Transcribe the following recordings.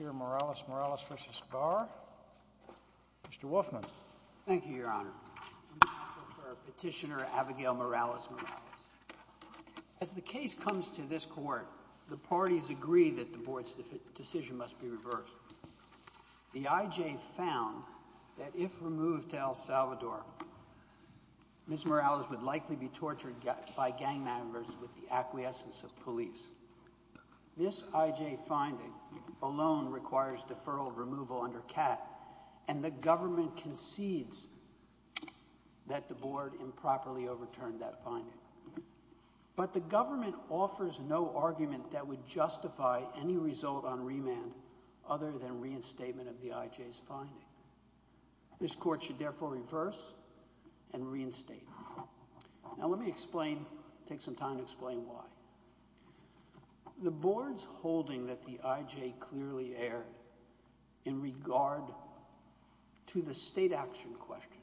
Morales-Morales v. Barr. Mr. Wolfman. Thank you, Your Honor. Petitioner Abigail Morales-Morales. As the case comes to this court, the parties agree that the board's decision must be reversed. The I.J. found that if removed to El Salvador, Ms. Morales would likely be tortured by gang members with the acquiescence of police. This I.J. finding alone requires deferral of removal under CAT, and the government concedes that the board improperly overturned that finding. But the government offers no argument that would justify any result on remand other than reinstatement of the I.J.'s finding. This court should therefore reverse and reinstate. Now let me explain, take some time to explain why. The board's holding that the I.J. clearly erred in regard to the state action question,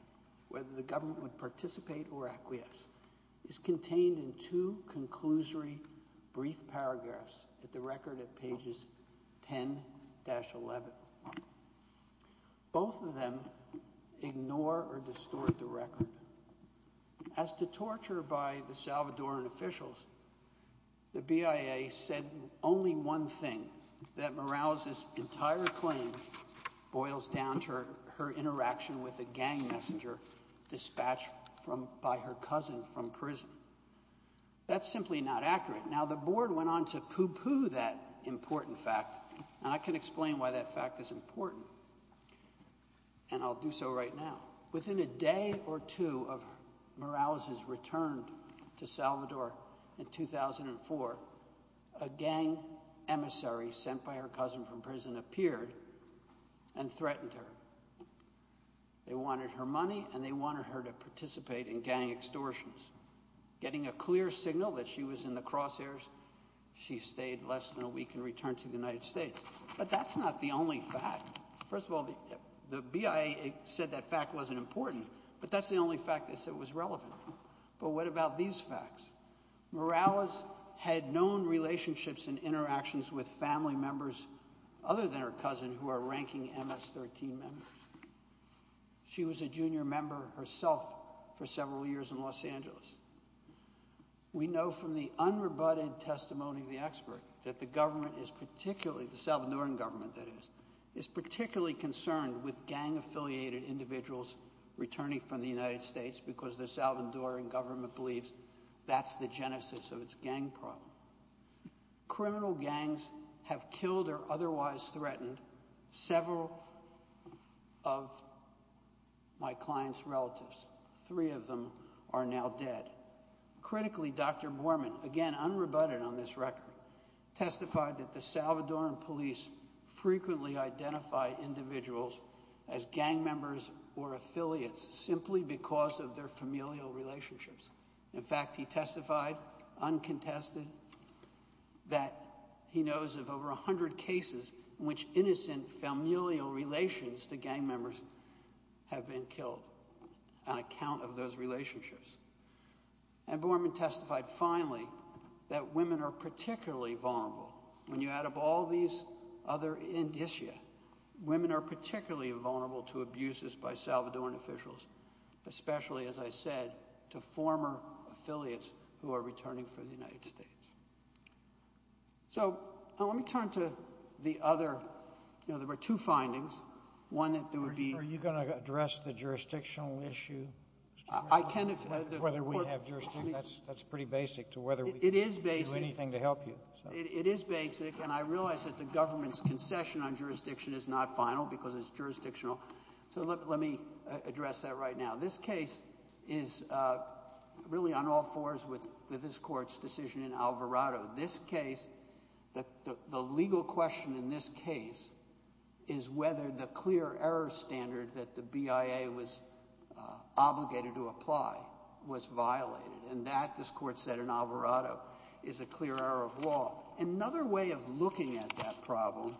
whether the government would participate or acquiesce, is contained in two conclusory brief paragraphs at the record at pages 10-11. Both of them ignore or distort the record. As to torture by the Salvadoran officials, the BIA said only one thing, that Morales' entire claim boils down to her interaction with a gang messenger dispatched by her cousin from prison. That's simply not accurate. Now the board went on to poo-poo that important fact, and I can explain why that fact is important, and I'll do so right now. Within a day or two of Morales' return to Salvador in 2004, a gang emissary sent by her cousin from prison appeared and threatened her. They wanted her money, and they wanted her to participate in gang extortions. Getting a clear signal that she was in the crosshairs, she stayed less than a week and returned to the United States. But that's not the only fact. First of all, the BIA said that fact wasn't important, but that's the only fact they said was relevant. But what about these facts? Morales had known relationships and interactions with family members other than her cousin who are ranking MS-13 members. She was a junior member herself for several years in Los Angeles. We know from the unrebutted testimony of the expert that the government is particularly, the Salvadoran government that is, is particularly concerned with gang-affiliated individuals returning from the United States because the Salvadoran government believes that's the genesis of its gang problem. Criminal gangs have killed or otherwise threatened several of my client's relatives. Three of them are now dead. Critically, Dr. Borman, again unrebutted on this record, testified that the Salvadoran police frequently identify individuals as gang members or affiliates simply because of their familial relationships. In fact, he testified, uncontested, that he knows of over 100 cases in which innocent familial relations to gang members have been killed on account of those relationships. And Borman testified, finally, that women are particularly vulnerable. When you add up all these other indicia, women are particularly vulnerable to abuses by Salvadoran officials, especially, as I said, to former affiliates who are returning from the United States. So, let me turn to the other, you know, there were two findings. One that there would be... Are you going to address the jurisdictional issue? I can if... Whether we have jurisdiction, that's pretty basic to whether we can do anything to help you. It is basic. It is basic and I realize that the government's concession on jurisdiction is not final because it's jurisdictional. So, let me address that right now. This case is really on all fours with this court's decision in Alvarado. This case, the legal question in this case is whether the clear error standard that the BIA was obligated to apply was violated. And that, this court said in Alvarado, is a clear error of law. Another way of looking at that problem,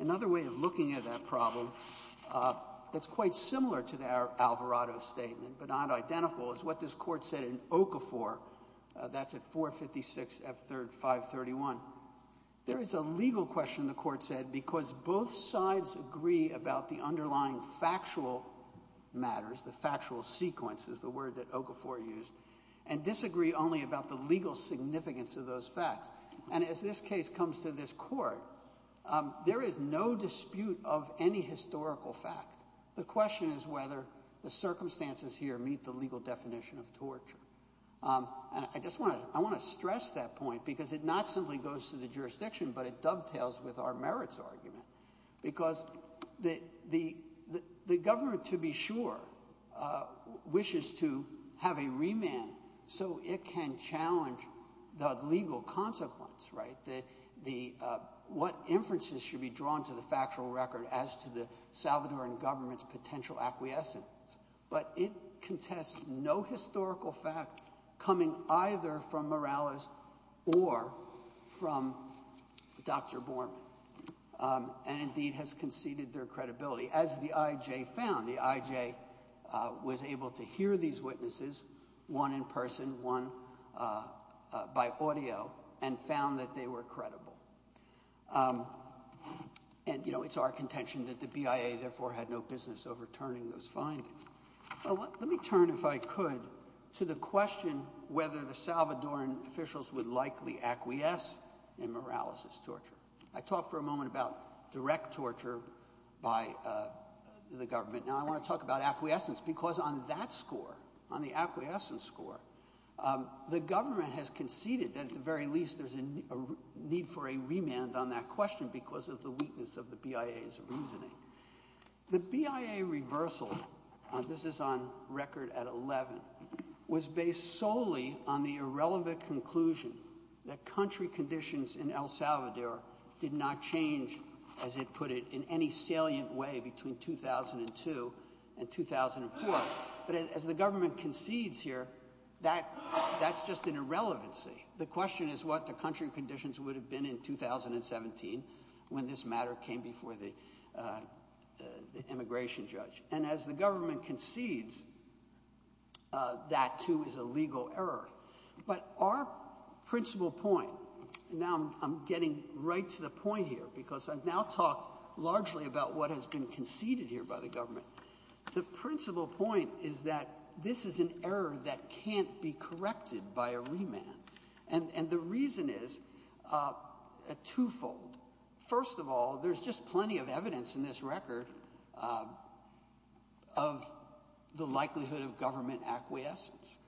another way of looking at that problem that's quite similar to the Alvarado statement, but not identical, is what this court said in Okafor. That's at 456 F. 531. There is a legal question, the court said, because both sides agree about the underlying factual matters, the factual sequence is the word that Okafor used, and disagree only about the legal significance of those facts. And as this case comes to this court, there is no dispute of any historical fact. The question is whether the circumstances here meet the legal definition of torture. And I just want to stress that point because it not simply goes to the jurisdiction, but it dovetails with our merits argument. Because the government, to be sure, wishes to have a remand so it can challenge the legal consequence, right? What inferences should be drawn to the factual record as to the Salvadoran government's potential acquiescence? But it contests no historical fact coming either from Morales or from Dr. Borman, and indeed has conceded their credibility. As the I.J. found, the I.J. was able to hear these witnesses, one in person, one by audio, and found that they were credible. And, you know, it's our contention that the BIA therefore had no business overturning those findings. Let me turn, if I could, to the question whether the Salvadoran officials would likely acquiesce in Morales' torture. I talked for a moment about direct torture by the government. Now, I want to talk about acquiescence because on that score, on the acquiescence score, the government has conceded that at the very least there's a need for a remand on that question because of the weakness of the BIA's reasoning. The BIA reversal, this is on record at 11, was based solely on the irrelevant conclusion that country conditions in El Salvador did not change, as it put it, in any salient way between 2002 and 2004. But as the government concedes here, that's just an irrelevancy. The question is what the country conditions would have been in 2017 when this matter came before the immigration judge. And as the government concedes, that, too, is a legal error. But our principal point, and now I'm getting right to the point here because I've now talked largely about what has been conceded here by the government. The principal point is that this is an error that can't be corrected by a remand. And the reason is twofold. First of all, there's just plenty of evidence in this record of the likelihood of government acquiescence.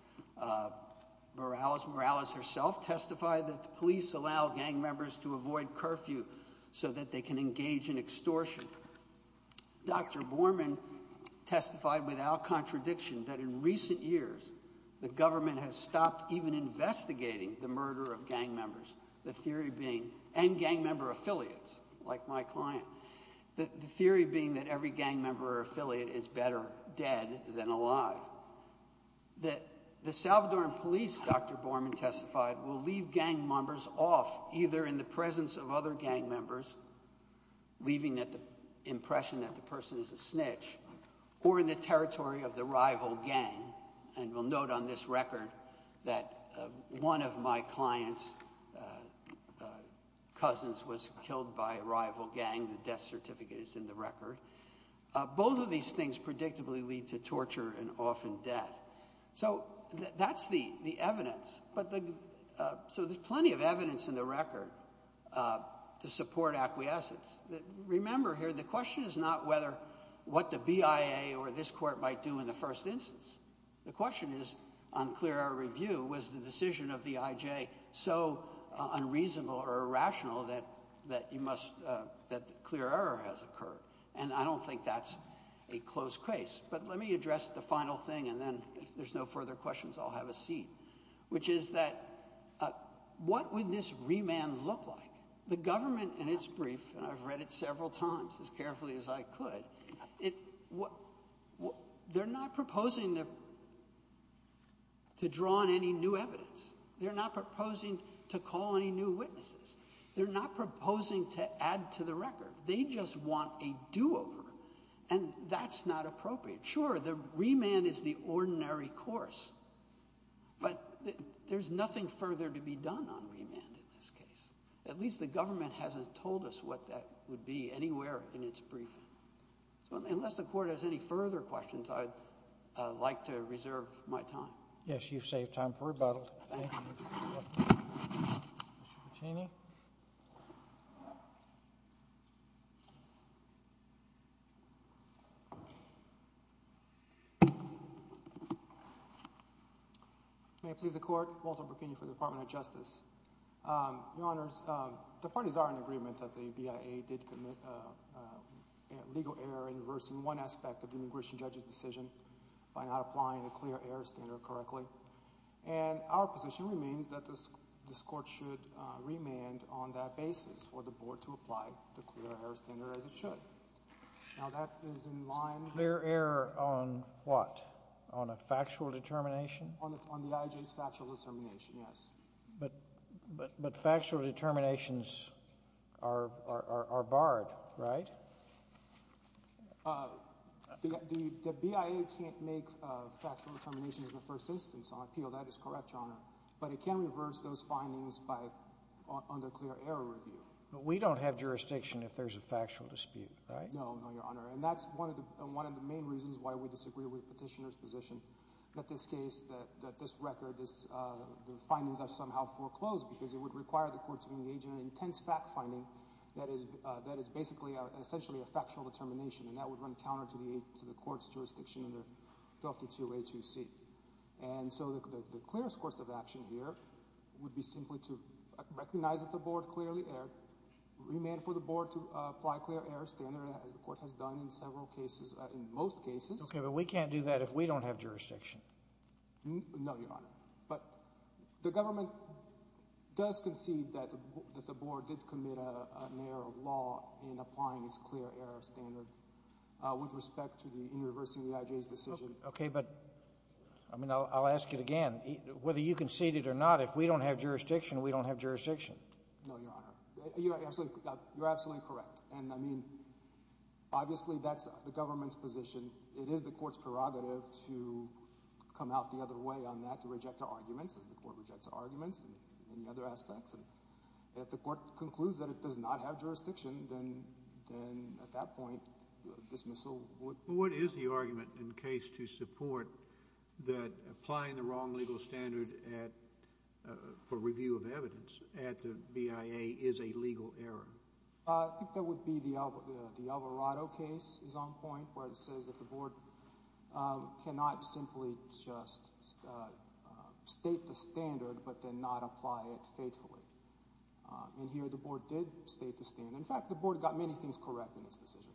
Morales herself testified that the police allow gang members to avoid curfew so that they can engage in extortion. Dr. Borman testified without contradiction that in recent years the government has stopped even investigating the murder of gang members, the theory being, and gang member affiliates like my client, the theory being that every gang member or affiliate is better dead than alive. The Salvadoran police, Dr. Borman testified, will leave gang members off either in the presence of other gang members, leaving the impression that the person is a snitch, or in the territory of the rival gang. And we'll note on this record that one of my client's cousins was killed by a rival gang. The death certificate is in the record. Both of these things predictably lead to torture and often death. So that's the evidence. So there's plenty of evidence in the record to support acquiescence. Remember here, the question is not what the BIA or this court might do in the first instance. The question is, on clear error review, was the decision of the IJ so unreasonable or irrational that clear error has occurred? And I don't think that's a close case. But let me address the final thing, and then if there's no further questions, I'll have a seat, which is that what would this remand look like? The government in its brief, and I've read it several times as carefully as I could, they're not proposing to draw on any new evidence. They're not proposing to call any new witnesses. They're not proposing to add to the record. They just want a do-over. And that's not appropriate. Sure, the remand is the ordinary course, but there's nothing further to be done on remand in this case. At least the government hasn't told us what that would be anywhere in its briefing. So unless the Court has any further questions, I'd like to reserve my time. Yes, you've saved time for rebuttal. Thank you. Mr. Puccini. May it please the Court, Walter Puccini for the Department of Justice. Your Honors, the parties are in agreement that the BIA did commit legal error in reversing one aspect of the This means that this Court should remand on that basis for the Board to apply the clear error standard as it should. Now that is in line with Clear error on what? On a factual determination? On the IJ's factual determination, yes. But factual determinations are barred, right? The BIA can't make factual determinations in the first instance on appeal. That is correct, Your Honor. But it can reverse those findings under clear error review. But we don't have jurisdiction if there's a factual dispute, right? No, no, Your Honor. And that's one of the main reasons why we disagree with the Petitioner's position that this case, that this record, the findings are somehow foreclosed because it would require the Court to engage in an intense fact finding that is basically essentially a factual determination. And that would run counter to the Court's jurisdiction under Doctrine 2A2C. And so the clearest course of action here would be simply to recognize that the Board clearly erred, remand for the Board to apply clear error standard as the Court has done in several cases, in most cases. Okay, but we can't do that if we don't have jurisdiction. No, Your Honor. But the government does concede that the Board did commit an error of law in applying its clear error standard with respect to the inter-reversing the IJ's decision. Okay, but, I mean, I'll ask it again. Whether you concede it or not, if we don't have jurisdiction, we don't have jurisdiction. No, Your Honor. You're absolutely correct. And, I mean, obviously that's the government's position. It is the Court's prerogative to come out the other way on that, to reject the arguments, as the Court rejects the arguments and the other aspects. And if the Court concludes that it does not have jurisdiction, then at that point dismissal would be. What is the argument in case to support that applying the wrong legal standard for review of evidence at the BIA is a legal error? I think that would be the Alvarado case is on point where it says that the Board cannot simply just state the standard but then not apply it faithfully. And here the Board did state the standard. In fact, the Board got many things correct in its decision.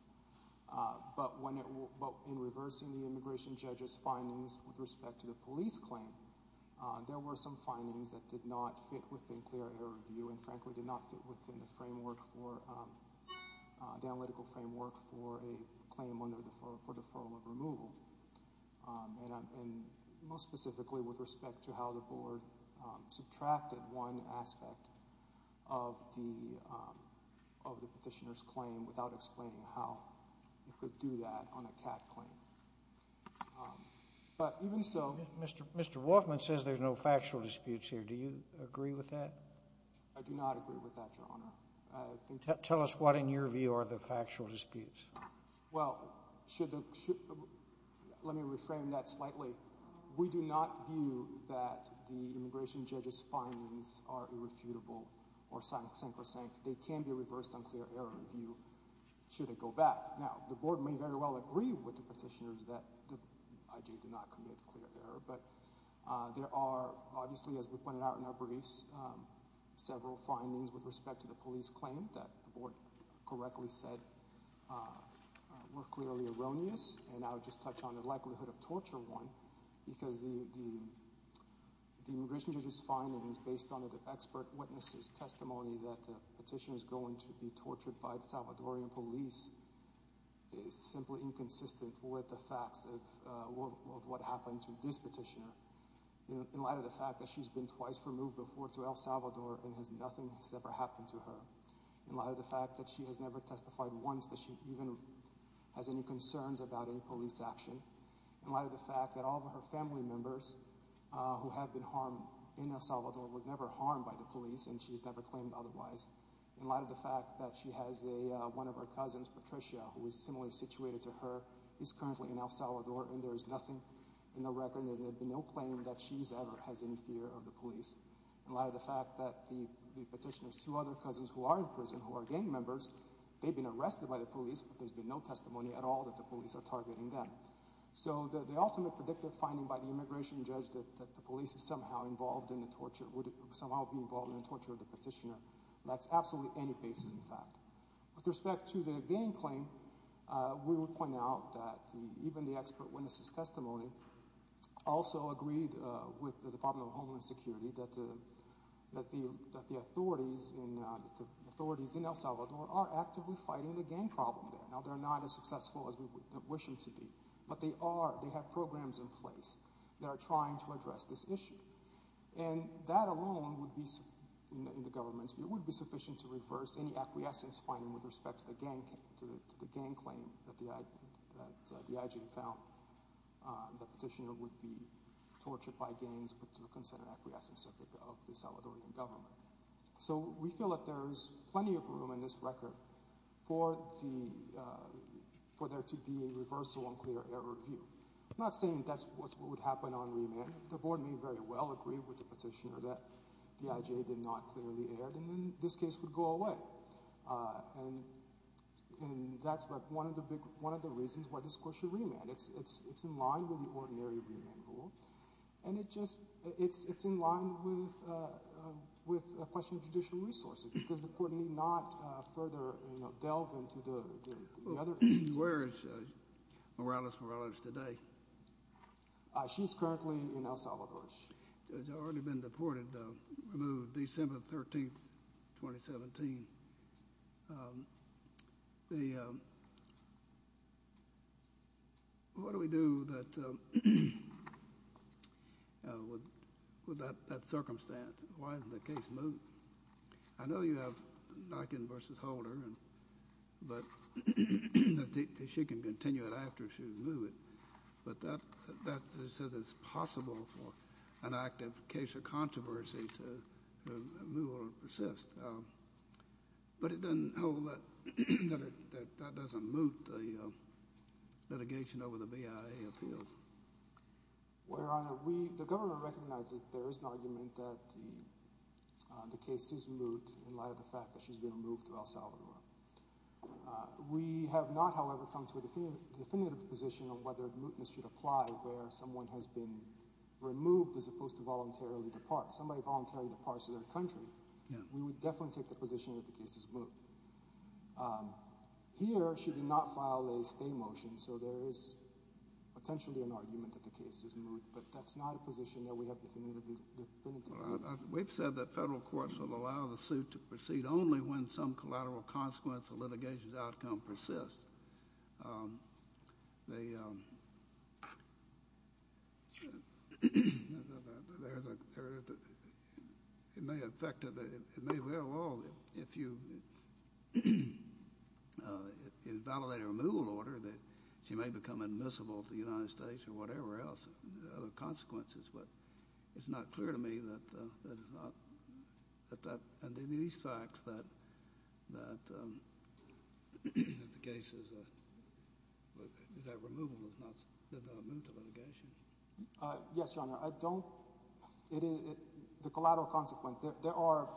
But in reversing the immigration judge's findings with respect to the police claim, there were some findings that did not fit within clear error review and, frankly, did not fit within the analytical framework for a claim under deferral of removal. And most specifically with respect to how the Board subtracted one aspect of the petitioner's claim without explaining how it could do that on a CAD claim. But even so... Mr. Woffman says there's no factual disputes here. Do you agree with that? I do not agree with that, Your Honor. Tell us what in your view are the factual disputes. Well, let me reframe that slightly. We do not view that the immigration judge's findings are irrefutable or sacrosanct. They can be reversed on clear error review should it go back. Now, the Board may very well agree with the petitioners that the IG did not commit clear error. But there are obviously, as we pointed out in our briefs, several findings with respect to the police claim that the Board correctly said were clearly erroneous. And I would just touch on the likelihood of torture one because the immigration judge's findings based on the expert witness's testimony that the petitioner is going to be tortured by the Salvadorian police is simply inconsistent with the facts of what happened to this petitioner in light of the fact that she's been twice removed before to El Salvador and nothing has ever happened to her, in light of the fact that she has never testified once that she even has any concerns about any police action, in light of the fact that all of her family members who have been harmed in El Salvador were never harmed by the police and she's never claimed otherwise, in light of the fact that she has one of her cousins, Patricia, who is similarly situated to her, is currently in El Salvador and there is nothing in the record, there's been no claim that she ever has any fear of the police, in light of the fact that the petitioner's two other cousins who are in prison who are gang members, they've been arrested by the police but there's been no testimony at all that the police are targeting them. So the ultimate predictive finding by the immigration judge is that the police would somehow be involved in the torture of the petitioner. That's absolutely any basis in fact. With respect to the gang claim, we would point out that even the expert witnesses' testimony also agreed with the Department of Homeland Security that the authorities in El Salvador are actively fighting the gang problem there. Now they're not as successful as we wish them to be, but they are, they have programs in place that are trying to address this issue. And that alone would be sufficient in the government's view, it would be sufficient to reverse any acquiescence finding with respect to the gang claim that the IG found the petitioner would be tortured by gangs but to the consent and acquiescence of the Salvadorian government. So we feel that there's plenty of room in this record for there to be a reversal on clear error view. I'm not saying that's what would happen on remand. The board may very well agree with the petitioner that the IG did not clearly err and then this case would go away. And that's one of the reasons why this court should remand. It's in line with the ordinary remand rule and it's in line with a question of judicial resources because the court need not further delve into the other issues. Where is Morales Morales today? She's currently in El Salvador. She's already been deported, removed December 13, 2017. What do we do with that circumstance? Why doesn't the case move? I know you have Nyken v. Holder, but she can continue it after she would move it. But that says it's possible for an active case of controversy to move or persist. But it doesn't hold that that doesn't move the litigation over the BIA appeal. Your Honor, the government recognizes that there is an argument that the case is moot in light of the fact that she's been moved to El Salvador. We have not, however, come to a definitive position on whether mootness should apply where someone has been removed as opposed to voluntarily depart. Somebody voluntarily departs to their country. We would definitely take the position that the case is moot. Here she did not file a stay motion, so there is potentially an argument that the case is moot. But that's not a position that we have definitively. We've said that federal courts will allow the suit to proceed only when some collateral consequence of litigation's outcome persists. It may well, if you invalidate a removal order, that she may become admissible to the United States or whatever else, other consequences. But it's not clear to me that it's not. And these facts that the case is, that removal did not move to litigation. Yes, Your Honor. I don't, the collateral consequence, there are,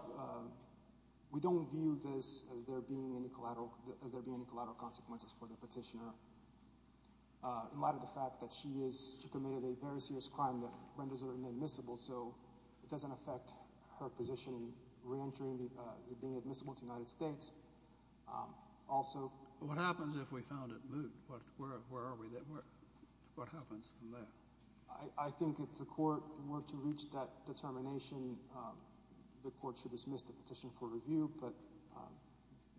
we don't view this as there being any collateral consequences for the petitioner in light of the fact that she committed a very serious crime that renders her inadmissible. So it doesn't affect her position reentering, being admissible to the United States. What happens if we found it moot? Where are we? What happens from there? I think if the court were to reach that determination, the court should dismiss the petition for review. But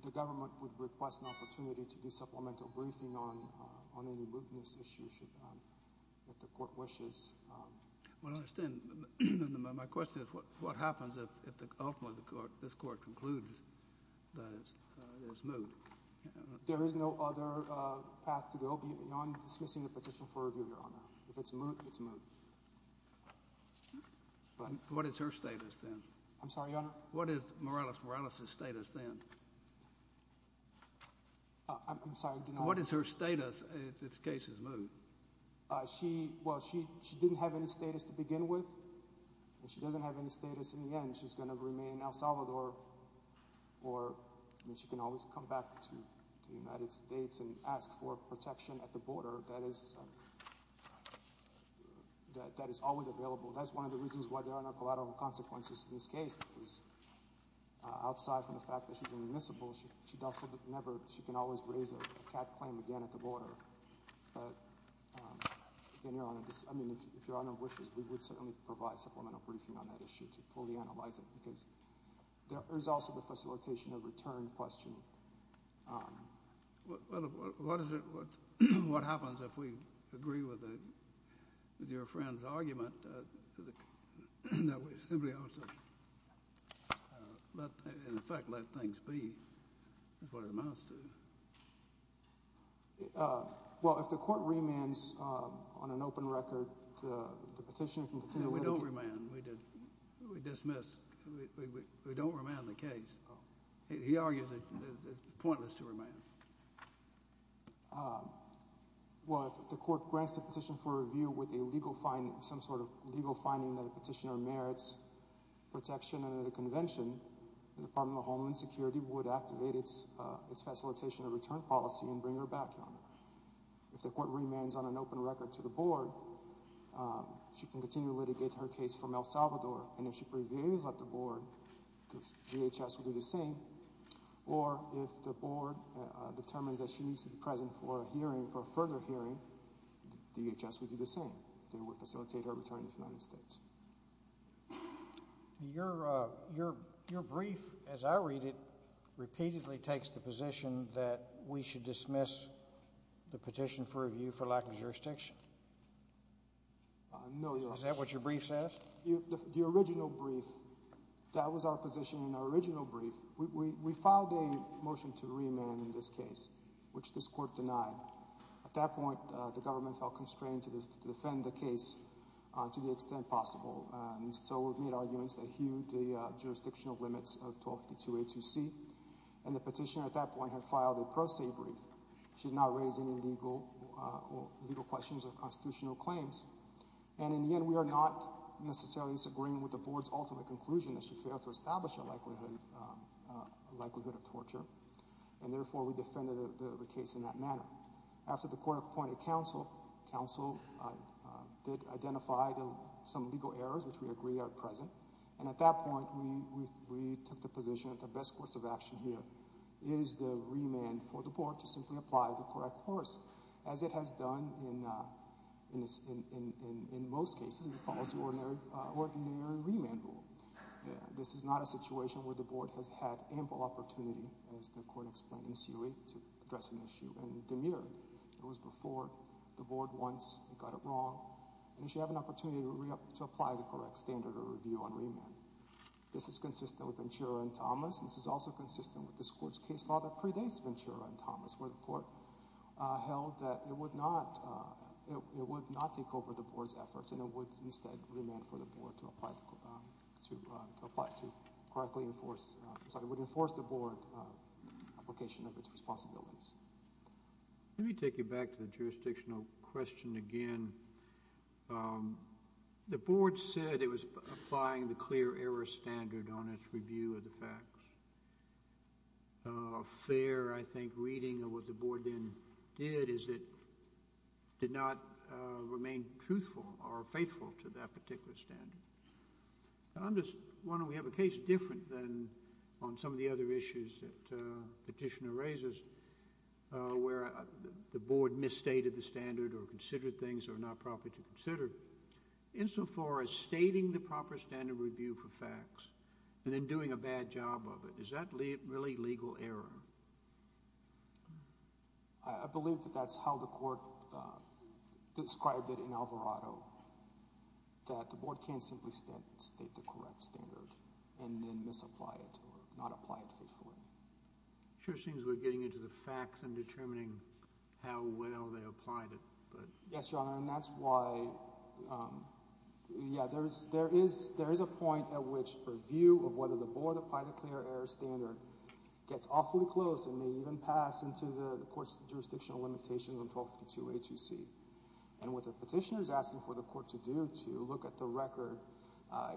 the government would request an opportunity to do supplemental briefing on any mootness issues if the court wishes. Well, I understand. My question is what happens if ultimately this court concludes that it's moot? There is no other path to go beyond dismissing the petition for review, Your Honor. If it's moot, it's moot. What is her status then? I'm sorry, Your Honor? I'm sorry, I did not hear you. What is her status if this case is moot? Well, she didn't have any status to begin with, and she doesn't have any status in the end. She's going to remain in El Salvador, or she can always come back to the United States and ask for protection at the border. That is always available. That's one of the reasons why there are no collateral consequences in this case because outside from the fact that she's inadmissible, she can always raise a cat claim again at the border. But, again, Your Honor, if Your Honor wishes, we would certainly provide supplemental briefing on that issue to fully analyze it because there is also the facilitation of return question. Now we simply ought to, in effect, let things be. That's what it amounts to. Well, if the court remands on an open record, the petitioner can continue. No, we don't remand. We dismiss. We don't remand the case. He argued that it's pointless to remand. Well, if the court grants the petition for review with some sort of legal finding that the petitioner merits protection under the convention, the Department of Homeland Security would activate its facilitation of return policy and bring her back, Your Honor. If the court remands on an open record to the board, she can continue to litigate her case for El Salvador, and if she prevails at the board, the DHS will do the same. Or if the board determines that she needs to be present for a hearing, for a further hearing, the DHS would do the same. They would facilitate her return to the United States. Your brief, as I read it, repeatedly takes the position that we should dismiss the petition for review for lack of jurisdiction. No, Your Honor. Is that what your brief says? The original brief, that was our position in our original brief. We filed a motion to remand in this case, which this court denied. At that point, the government felt constrained to defend the case to the extent possible. So we've made arguments that hew the jurisdictional limits of 1252A2C, and the petitioner at that point had filed a pro se brief. She did not raise any legal questions or constitutional claims. And in the end, we are not necessarily in agreement with the board's ultimate conclusion that she failed to establish a likelihood of torture, and therefore we defended the case in that manner. After the court appointed counsel, counsel did identify some legal errors, which we agree are present. And at that point, we took the position that the best course of action here is the remand for the board to simply apply the correct course, as it has done in most cases. It follows the ordinary remand rule. This is not a situation where the board has had ample opportunity, as the court explained in the suit, to address an issue and demur. It was before the board once got it wrong, and it should have an opportunity to apply the correct standard of review on remand. This is consistent with Ventura and Thomas. This is also consistent with this court's case law that predates Ventura and Thomas, where the court held that it would not take over the board's efforts and it would instead remand for the board to apply to correctly enforce the board application of its responsibilities. Let me take you back to the jurisdictional question again. The board said it was applying the clear error standard on its review of the facts. A fair, I think, reading of what the board then did is it did not remain truthful or faithful to that particular standard. I'm just wondering, we have a case different than on some of the other issues that Petitioner raises, where the board misstated the standard or considered things that are not proper to consider, insofar as stating the proper standard of review for facts and then doing a bad job of it. Is that really legal error? I believe that that's how the court described it in Alvarado, that the board can't simply state the correct standard and then misapply it or not apply it faithfully. It sure seems we're getting into the facts and determining how well they applied it. Yes, Your Honor, and that's why there is a point at which review of whether the board applied the clear error standard gets awfully close and may even pass into the court's jurisdictional limitations on 1252-HUC. And what the Petitioner is asking for the court to do, to look at the record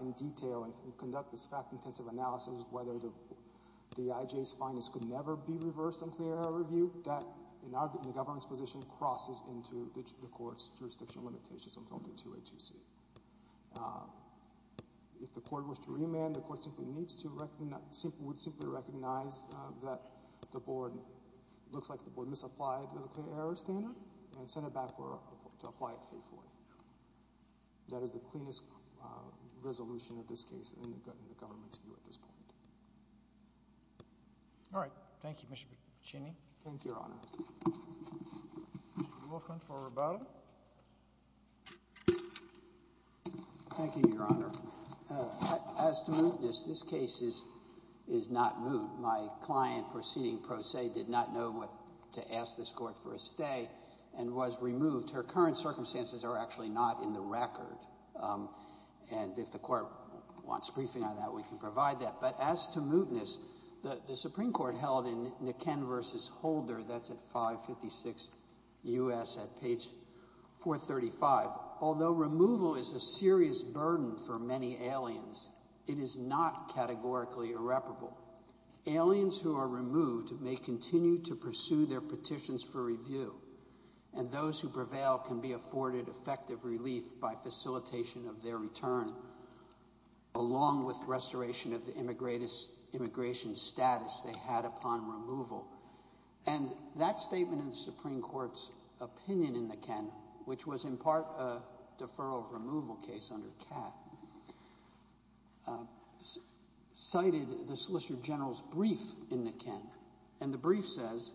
in detail and conduct this fact-intensive analysis of whether the IJA's findings could never be reversed on clear error review, that, in the government's position, crosses into the court's jurisdictional limitations on 1252-HUC. If the court were to remand, the court would simply recognize that it looks like the board misapplied the clear error standard and send it back to apply it faithfully. That is the cleanest resolution of this case in the government's view at this point. All right. Thank you, Mr. Piccinini. Thank you, Your Honor. Mr. Wilkins for rebuttal. Thank you, Your Honor. As to mootness, this case is not moot. My client proceeding pro se did not know what to ask this court for a stay and was removed. Her current circumstances are actually not in the record, and if the court wants briefing on that, we can provide that. But as to mootness, the Supreme Court held in Niken v. Holder, that's at 556 U.S. at page 435, although removal is a serious burden for many aliens, it is not categorically irreparable. Aliens who are removed may continue to pursue their petitions for review, and those who prevail can be afforded effective relief by facilitation of their return, along with restoration of the immigration status they had upon removal. And that statement in the Supreme Court's opinion in Niken, which was in part a deferral of removal case under Kat, cited the Solicitor General's brief in Niken, and the brief says,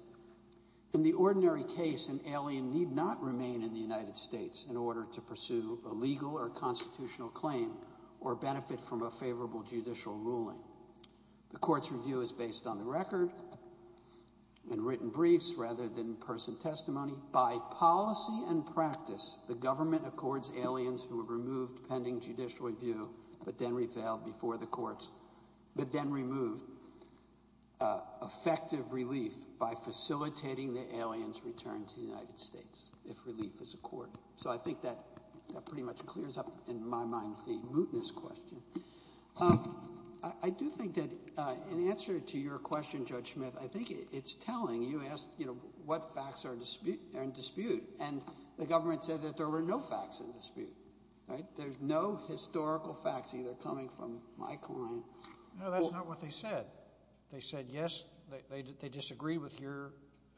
in the ordinary case, an alien need not remain in the United States in order to pursue a legal or constitutional claim or benefit from a favorable judicial ruling. The court's review is based on the record and written briefs rather than person testimony. By policy and practice, the government accords aliens who are removed pending judicial review but then prevailed before the courts, but then removed effective relief by facilitating the alien's return to the United States, if relief is accorded. So I think that pretty much clears up in my mind the mootness question. I do think that in answer to your question, Judge Smith, I think it's telling. You asked, you know, what facts are in dispute, and the government said that there were no facts in dispute, right? There's no historical facts either coming from my client. No, that's not what they said. They said, yes, they disagree with your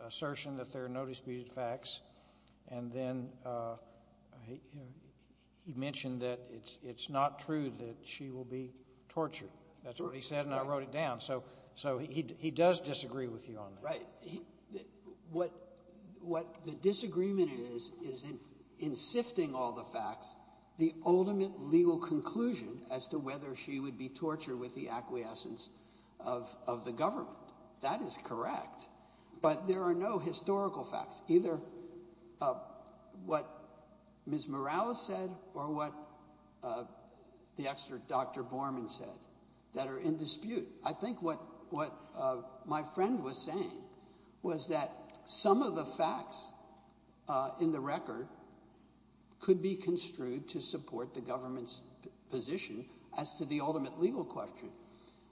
assertion that there are no disputed facts, and then he mentioned that it's not true that she will be tortured. That's what he said, and I wrote it down. So he does disagree with you on that. Right. What the disagreement is is in sifting all the facts, the ultimate legal conclusion as to whether she would be tortured with the acquiescence of the government. That is correct, but there are no historical facts either what Ms. Morales said or what the expert Dr. Borman said that are in dispute. I think what my friend was saying was that some of the facts in the record could be construed to support the government's position as to the ultimate legal question.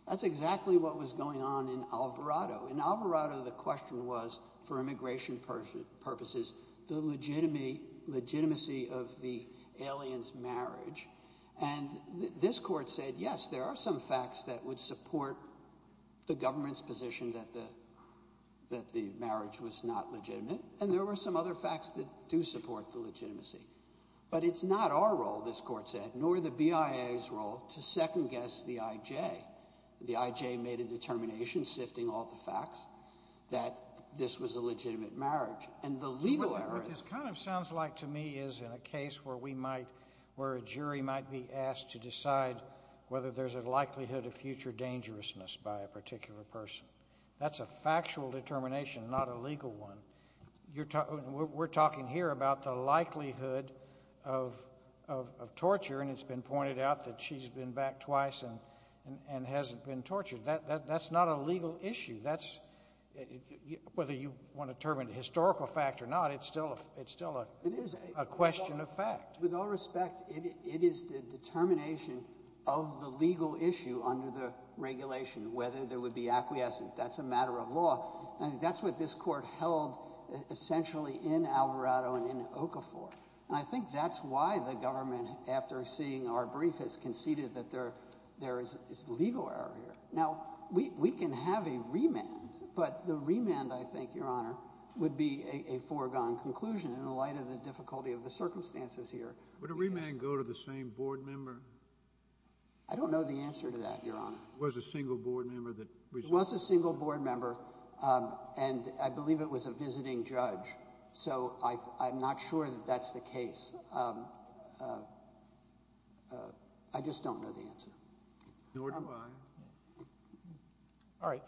That's exactly what was going on in Alvarado. In Alvarado, the question was, for immigration purposes, the legitimacy of the alien's marriage, and this court said, yes, there are some facts that would support the government's position that the marriage was not legitimate, and there were some other facts that do support the legitimacy. But it's not our role, this court said, nor the BIA's role, to second-guess the IJ. The IJ made a determination, sifting all the facts, that this was a legitimate marriage. And the legal error is— What this kind of sounds like to me is in a case where we might, where a jury might be asked to decide whether there's a likelihood of future dangerousness by a particular person. That's a factual determination, not a legal one. We're talking here about the likelihood of torture, and it's been pointed out that she's been back twice and hasn't been tortured. That's not a legal issue. That's—whether you want to term it a historical fact or not, it's still a question of fact. With all respect, it is the determination of the legal issue under the regulation, whether there would be acquiescence. That's a matter of law. And that's what this court held essentially in Alvarado and in Okafor. And I think that's why the government, after seeing our brief, has conceded that there is legal error here. Now, we can have a remand, but the remand, I think, Your Honor, would be a foregone conclusion in the light of the difficulty of the circumstances here. Would a remand go to the same board member? I don't know the answer to that, Your Honor. Was a single board member that— It was a single board member, and I believe it was a visiting judge. So I'm not sure that that's the case. I just don't know the answer. Nor do I. All right.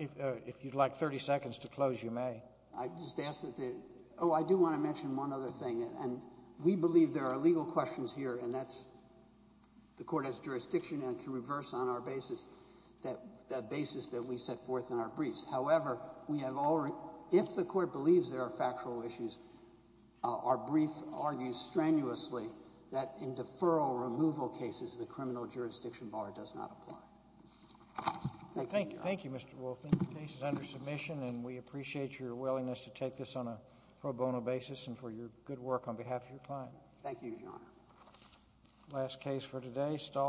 If you'd like 30 seconds to close, you may. I just ask that the—oh, I do want to mention one other thing. And we believe there are legal questions here, and that's—the court has jurisdiction and can reverse on our basis that basis that we set forth in our briefs. However, we have already—if the court believes there are factual issues, our brief argues strenuously that in deferral removal cases, the criminal jurisdiction bar does not apply. Thank you, Your Honor. Thank you, Mr. Wolfman. The case is under submission, and we appreciate your willingness to take this on a pro bono basis and for your good work on behalf of your client. Thank you, Your Honor. Last case for today, Stahl.